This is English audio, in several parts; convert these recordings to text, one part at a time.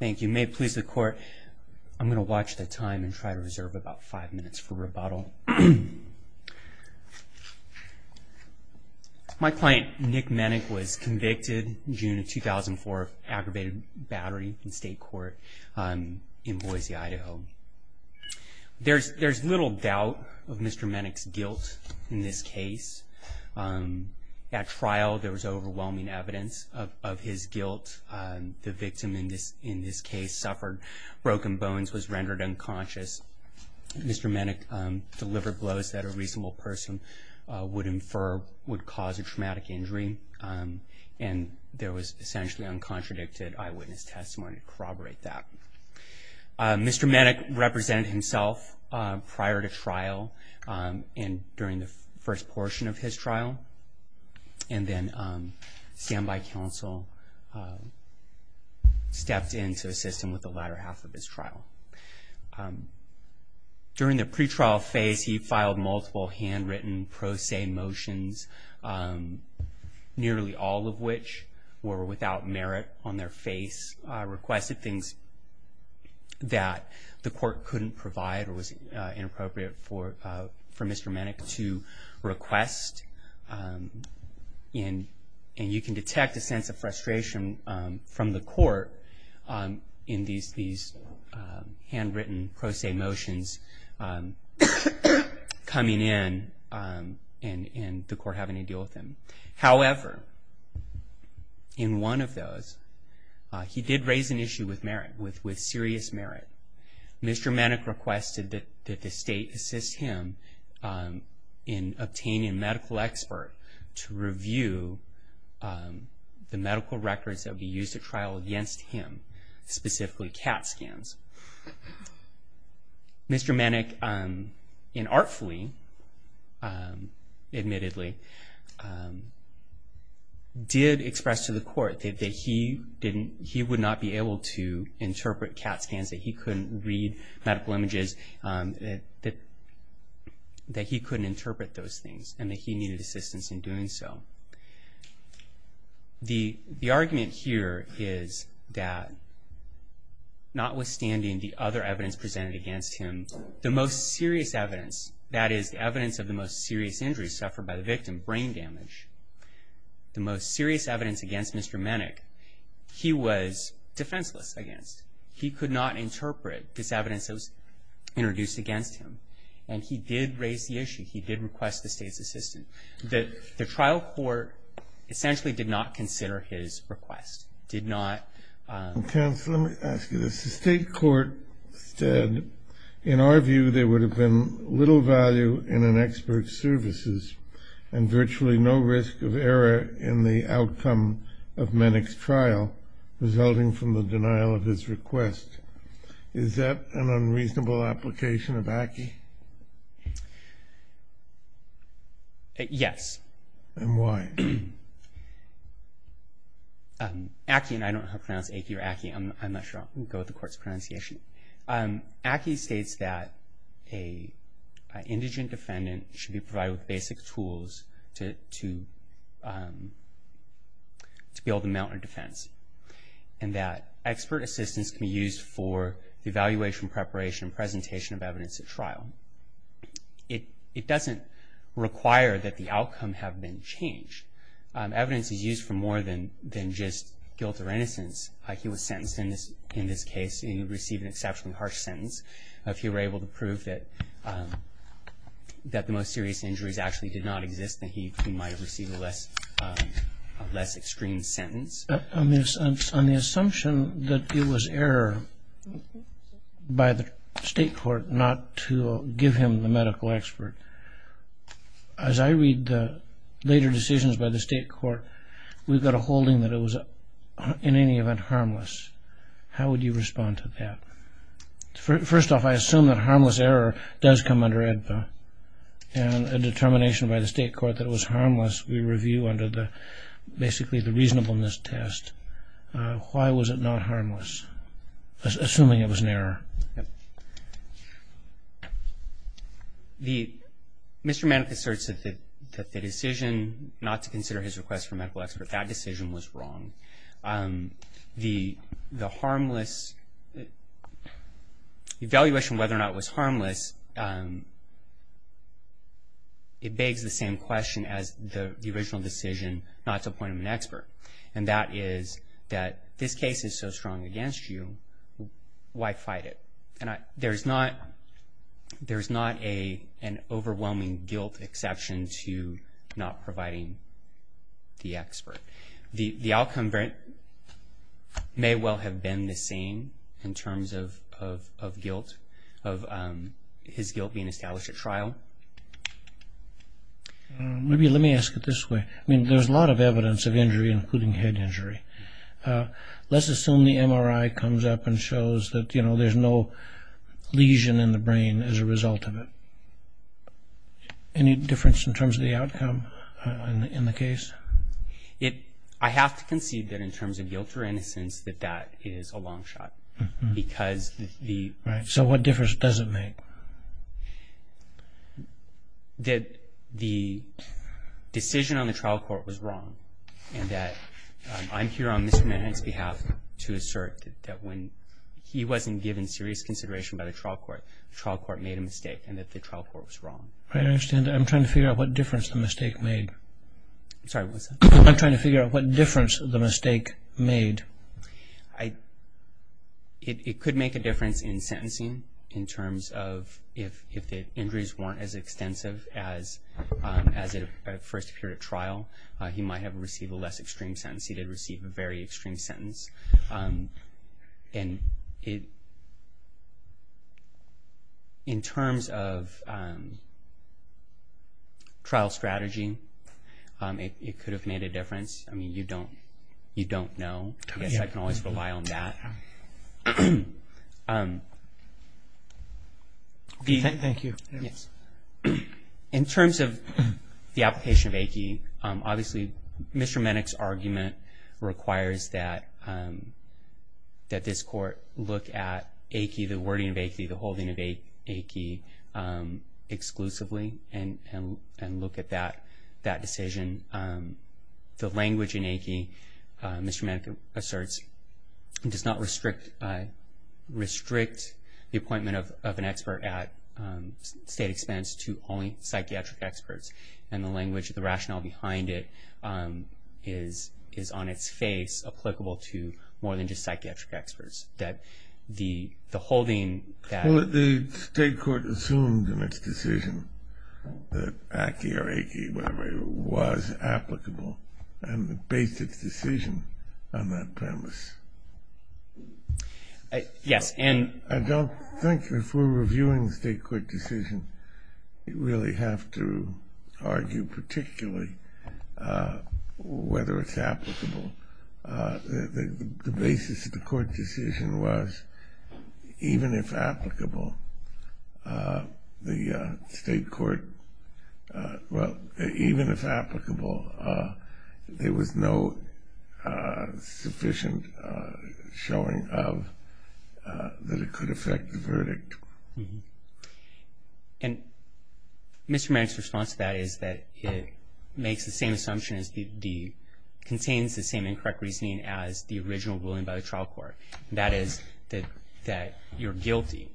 Thank you. May it please the court, I'm gonna watch the time and try to reserve about five minutes for rebuttal. My client Nick Mennick was convicted in June of 2004 of aggravated battery in state court in Boise, Idaho. There's little doubt of Mr. Mennick's guilt in this case. At trial there was overwhelming evidence of his guilt. The victim in this in this case suffered broken bones, was rendered unconscious. Mr. Mennick delivered blows that a reasonable person would infer would cause a traumatic injury and there was essentially uncontradicted eyewitness testimony to corroborate that. Mr. Mennick represented himself prior to trial and during the first portion of his trial and then standby counsel stepped in to assist him with the latter half of his trial. During the pretrial phase he filed multiple handwritten pro se motions nearly all of which were without merit on their face, requested things that the and you can detect a sense of frustration from the court in these handwritten pro se motions coming in and the court having to deal with him. However, in one of those he did raise an issue with merit, with serious merit. Mr. Mennick requested that the state assist him in obtaining medical expert to review the medical records that we used to trial against him specifically cat scans. Mr. Mennick in artfully admittedly did express to the court that he didn't he would not be able to interpret cat scans that he couldn't read medical images that that he couldn't interpret those things and that he needed assistance in doing so. The argument here is that notwithstanding the other evidence presented against him the most serious evidence that is the evidence of the most serious injuries suffered by the victim brain damage the most serious evidence against Mr. Mennick he was defenseless against he could not interpret this evidence that was introduced against him and he did raise the issue he did request the state's assistant that the trial court essentially did not consider his request did not. The state court said in our view there would have been little value in an expert services and virtually no risk of error in the outcome of Mennick's trial resulting from the denial of his request is that an unreasonable application of ACCE? Yes. And why? ACCE and I don't know how to pronounce ACCE or ACCE I'm not sure I'll go with the court's pronunciation. ACCE states that a indigent defendant should be provided basic tools to to to be able to mount a defense and that expert assistance can be used for the evaluation preparation and presentation of evidence at trial. It doesn't require that the outcome have been changed. Evidence is used for more than than just guilt or innocence. He was sentenced in this in this case he received an exceptionally harsh sentence. If he were able to prove that that the most serious injuries actually did not exist that he might receive a less extreme sentence. On the assumption that it was error by the state court not to give him the medical expert as I read the later decisions by the state court we've got a holding that it was in any event harmless. How would you respond to that? First off I assume that harmless error does come under AEDPA and a basically the reasonableness test. Why was it not harmless? Assuming it was an error. The Mr. Manick asserts that the decision not to consider his request for medical expert that decision was wrong. The the harmless evaluation whether or not was harmless it begs the same question as the original decision not to become an expert and that is that this case is so strong against you why fight it? And there's not there's not a an overwhelming guilt exception to not providing the expert. The the outcome may well have been the same in terms of of guilt of his guilt being established at trial. Maybe let me ask it this way I there's a lot of evidence of injury including head injury. Let's assume the MRI comes up and shows that you know there's no lesion in the brain as a result of it. Any difference in terms of the outcome in the case? I have to concede that in terms of guilt or innocence that that is a long shot because the... So what difference does it make? That the decision on the trial court was wrong and that I'm here on Mr. Manick's behalf to assert that when he wasn't given serious consideration by the trial court, the trial court made a mistake and that the trial court was wrong. I understand I'm trying to figure out what difference the mistake made. Sorry what's that? I'm trying to figure out what difference the mistake made. I it could make a difference in sentencing in terms of if if the injuries weren't as extensive as as it first appeared at trial he might have received a less extreme sentence. He did receive a very extreme sentence and it in terms of trial strategy it could have made a difference. Thank you. In terms of the application of AICHI, obviously Mr. Manick's argument requires that that this court look at AICHI, the wording of AICHI, the holding of AICHI exclusively and and look at that that decision. The language in AICHI, Mr. Manick asserts, does not restrict restrict the appointment of an expert at state expense to only psychiatric experts and the language, the rationale behind it is is on its face applicable to more than just psychiatric experts. That the the holding... The state court assumed in its decision that AICHI or AICHI, whatever it was, applicable and the basis decision on that premise. Yes and... I don't think if we're reviewing the state court decision you really have to argue particularly whether it's applicable. The basis of the court decision was even if applicable the sufficient showing of that it could affect the verdict. And Mr. Manick's response to that is that it makes the same assumption as the contains the same incorrect reasoning as the original ruling by the trial court. That is that that you're guilty.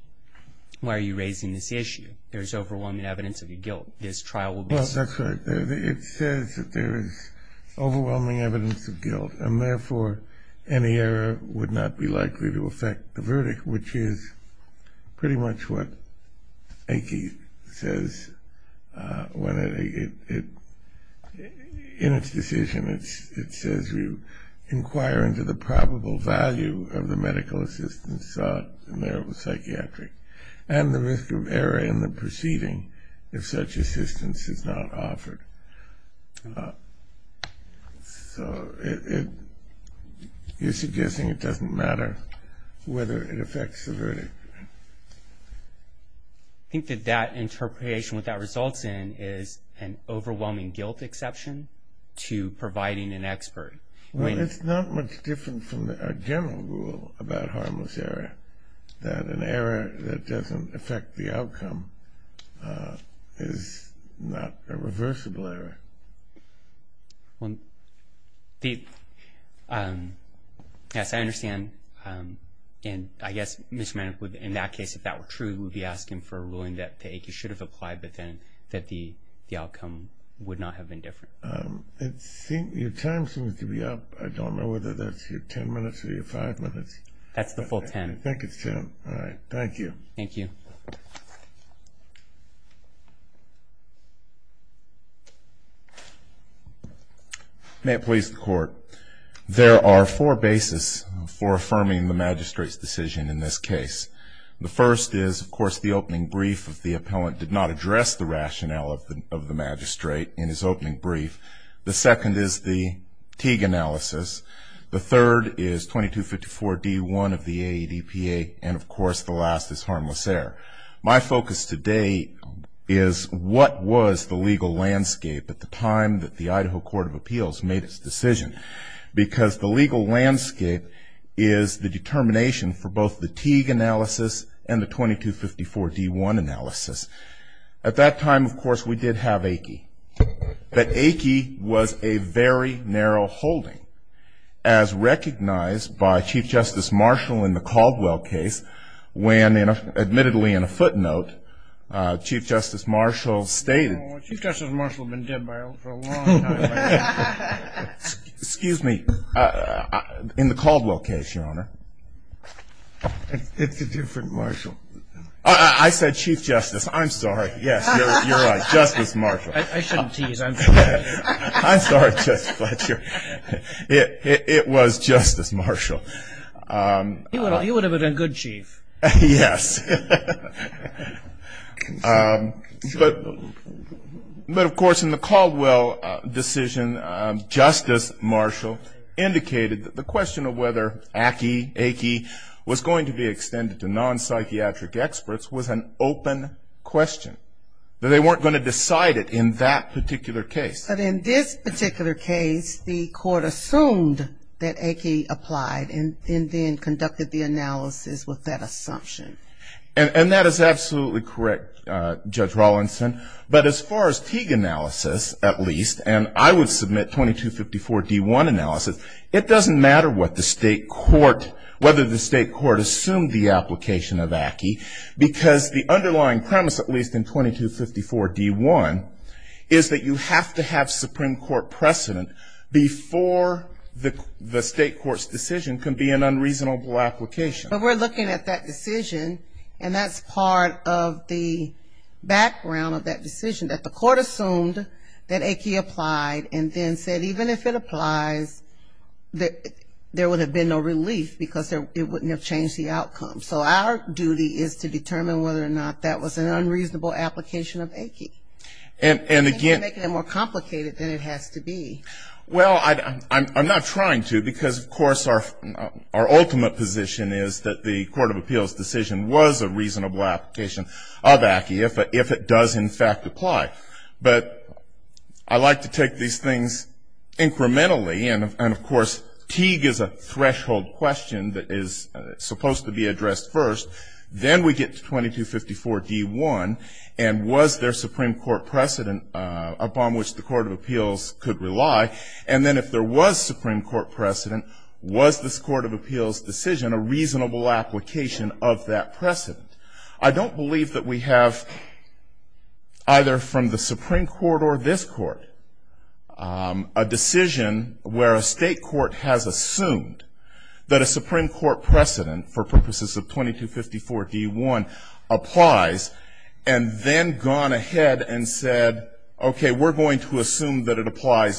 Why are you raising this issue? There's overwhelming evidence of your guilt. This trial will be... Well that's right. It says that there is overwhelming evidence of guilt and therefore any error would not be likely to affect the verdict. Which is pretty much what AICHI says when it in its decision it's it says we inquire into the probable value of the medical assistance sought in marital psychiatry and the risk of error in the proceeding if such assistance is not offered. So it is suggesting it doesn't matter whether it affects the verdict. I think that that interpretation what that results in is an overwhelming guilt exception to providing an expert. Well it's not much different from the general rule about harmless error. That an error that doesn't affect the outcome is not a reversible error. Well the yes I understand and I guess Mr. Manick would in that case if that were true would be asking for a ruling that the AICHI should have applied but then that the the outcome would not have been different. I think your time seems to be up. I don't know whether that's your ten minutes or your five minutes. That's the whole ten. Thank you. May it please the court. There are four basis for affirming the magistrate's decision in this case. The first is of course the opening brief of the appellant did not address the rationale of the magistrate in his opening brief. The second is the Teague analysis. The third is 2254 D1 of the ADPA and of course the last is harmless error. My focus today is what was the legal landscape at the time that the Idaho Court of Appeals made its decision because the legal landscape is the determination for both the Teague analysis and the 2254 D1 analysis. At that time of course we did have AICHI. But AICHI was a very narrow holding as recognized by Chief Justice Marshall in the Caldwell case when admittedly in a footnote Chief Justice Marshall stated Chief Justice Marshall has been dead for a long time. Excuse me, in the Caldwell case your honor. It's a different Marshall. I said Chief Justice. I'm sorry. Yes, you're right. Justice Marshall. I shouldn't tease. I'm sorry. I'm sorry Justice Fletcher. It was Justice Marshall. He would have been a good chief. Yes. But of course in the Caldwell decision Justice Marshall indicated that the question of whether AICHI was going to be extended to non-psychiatric experts was an open question. That they weren't going to decide it in that particular case. But in this particular case the court assumed that AICHI applied and then conducted the analysis with that assumption. And that is absolutely correct Judge Rawlinson. But as far as Teague analysis at least and I would submit 2254 D1 analysis it doesn't matter what the state court whether the state court assumed the application of AICHI because the underlying premise at least in 2254 D1 is that you have to have a non-psychiatric expert. You have to have Supreme Court precedent before the state court's decision can be an unreasonable application. But we're looking at that decision and that's part of the background of that decision that the court assumed that AICHI applied and then said even if it applies there would have been no relief because it wouldn't have changed the outcome. So our duty is to determine whether or not that was an unreasonable application of AICHI. And again I think you're making it more complicated than it has to be. Well I'm not trying to because of course our ultimate position is that the Court of Appeals decision was a reasonable application of AICHI if it does in fact apply. But I like to take these things incrementally and of course Teague is a threshold question that is supposed to be addressed first. Then we get to 2254 D1 and was there Supreme Court precedent. Upon which the Court of Appeals could rely and then if there was Supreme Court precedent was this Court of Appeals decision a reasonable application of that precedent. I don't believe that we have either from the Supreme Court or this court a decision where a state court has assumed that a Supreme Court precedent for purposes of 2254 D1 applies and then gone ahead and said we're going to apply.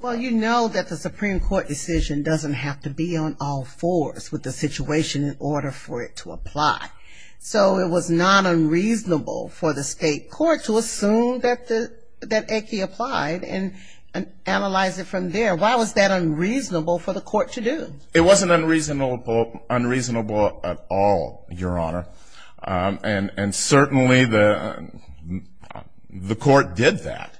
Well you know that the Supreme Court decision doesn't have to be on all fours with the situation in order for it to apply. So it was not unreasonable for the state court to assume that AICHI applied and analyze it from there. Why was that unreasonable for the court to do? It wasn't unreasonable at all Your Honor. And certainly the court did that.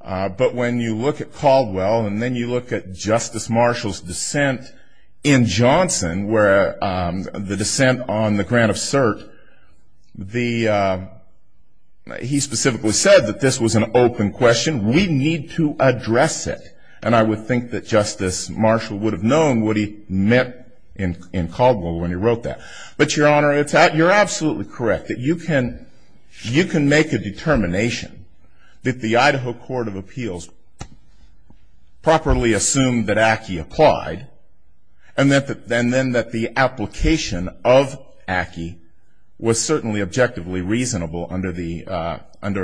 But when you look at Caldwell and then you look at Justice Marshall's dissent in Johnson where the dissent on the grant of cert. He specifically said that this was an open question. We need to address it. And I would think that Justice Marshall would have known what he meant in Caldwell when he wrote that. But Your Honor you're absolutely correct that you can make a determination that the Idaho Court of Appeals properly assumed that AICHI applied and then that the application of AICHI was certainly objectively reasonable under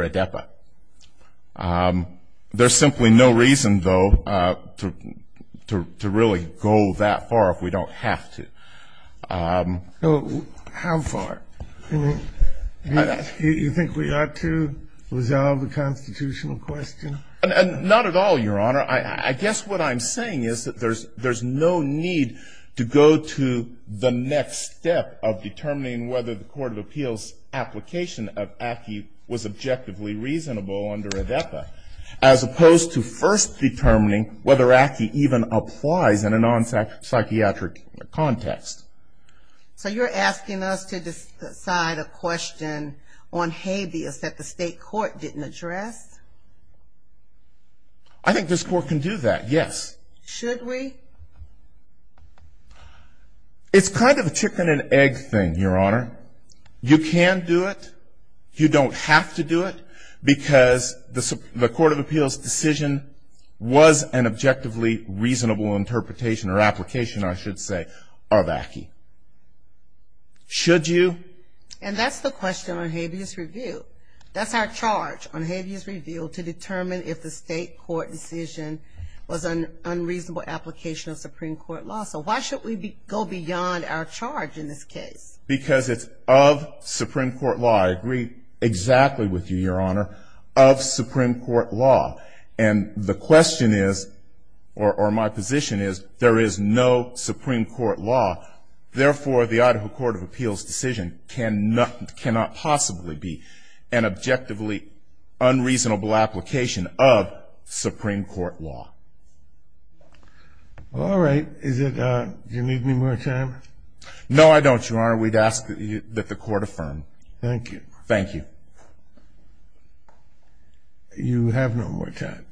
ADEPA. There's simply no reason though to really go that far if we don't have to. How far? Do you think we ought to resolve the constitutional question? Not at all Your Honor. I guess what I'm saying is that there's no need to go to the next step of determining whether the Court of Appeals application of AICHI was objectively reasonable under ADEPA. As opposed to first determining whether AICHI even applies in a non-psychiatric context. So you're asking us to decide a question on habeas that the state court didn't address? I think this court can do that, yes. Should we? It's kind of a chicken and egg thing, Your Honor. You can do it. You don't have to do it. Because the Court of Appeals decision was an objectively reasonable interpretation or application I should say of AICHI. Should you? And that's the question on habeas review. That's our charge on habeas review to determine if the state court decision was an unreasonable application of Supreme Court law. So why should we go beyond our charge in this case? Because it's of Supreme Court law. I agree exactly with you, Your Honor. Of Supreme Court law. And the question is, or my position is, there is no Supreme Court law. Therefore, the Idaho Court of Appeals decision cannot possibly be an objectively unreasonable application of Supreme Court law. All right. Do you need any more time? No, I don't, Your Honor. We'd ask that the court affirm. Thank you. Thank you. You have no more time.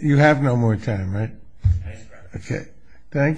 You have no more time, right? Yes, Your Honor.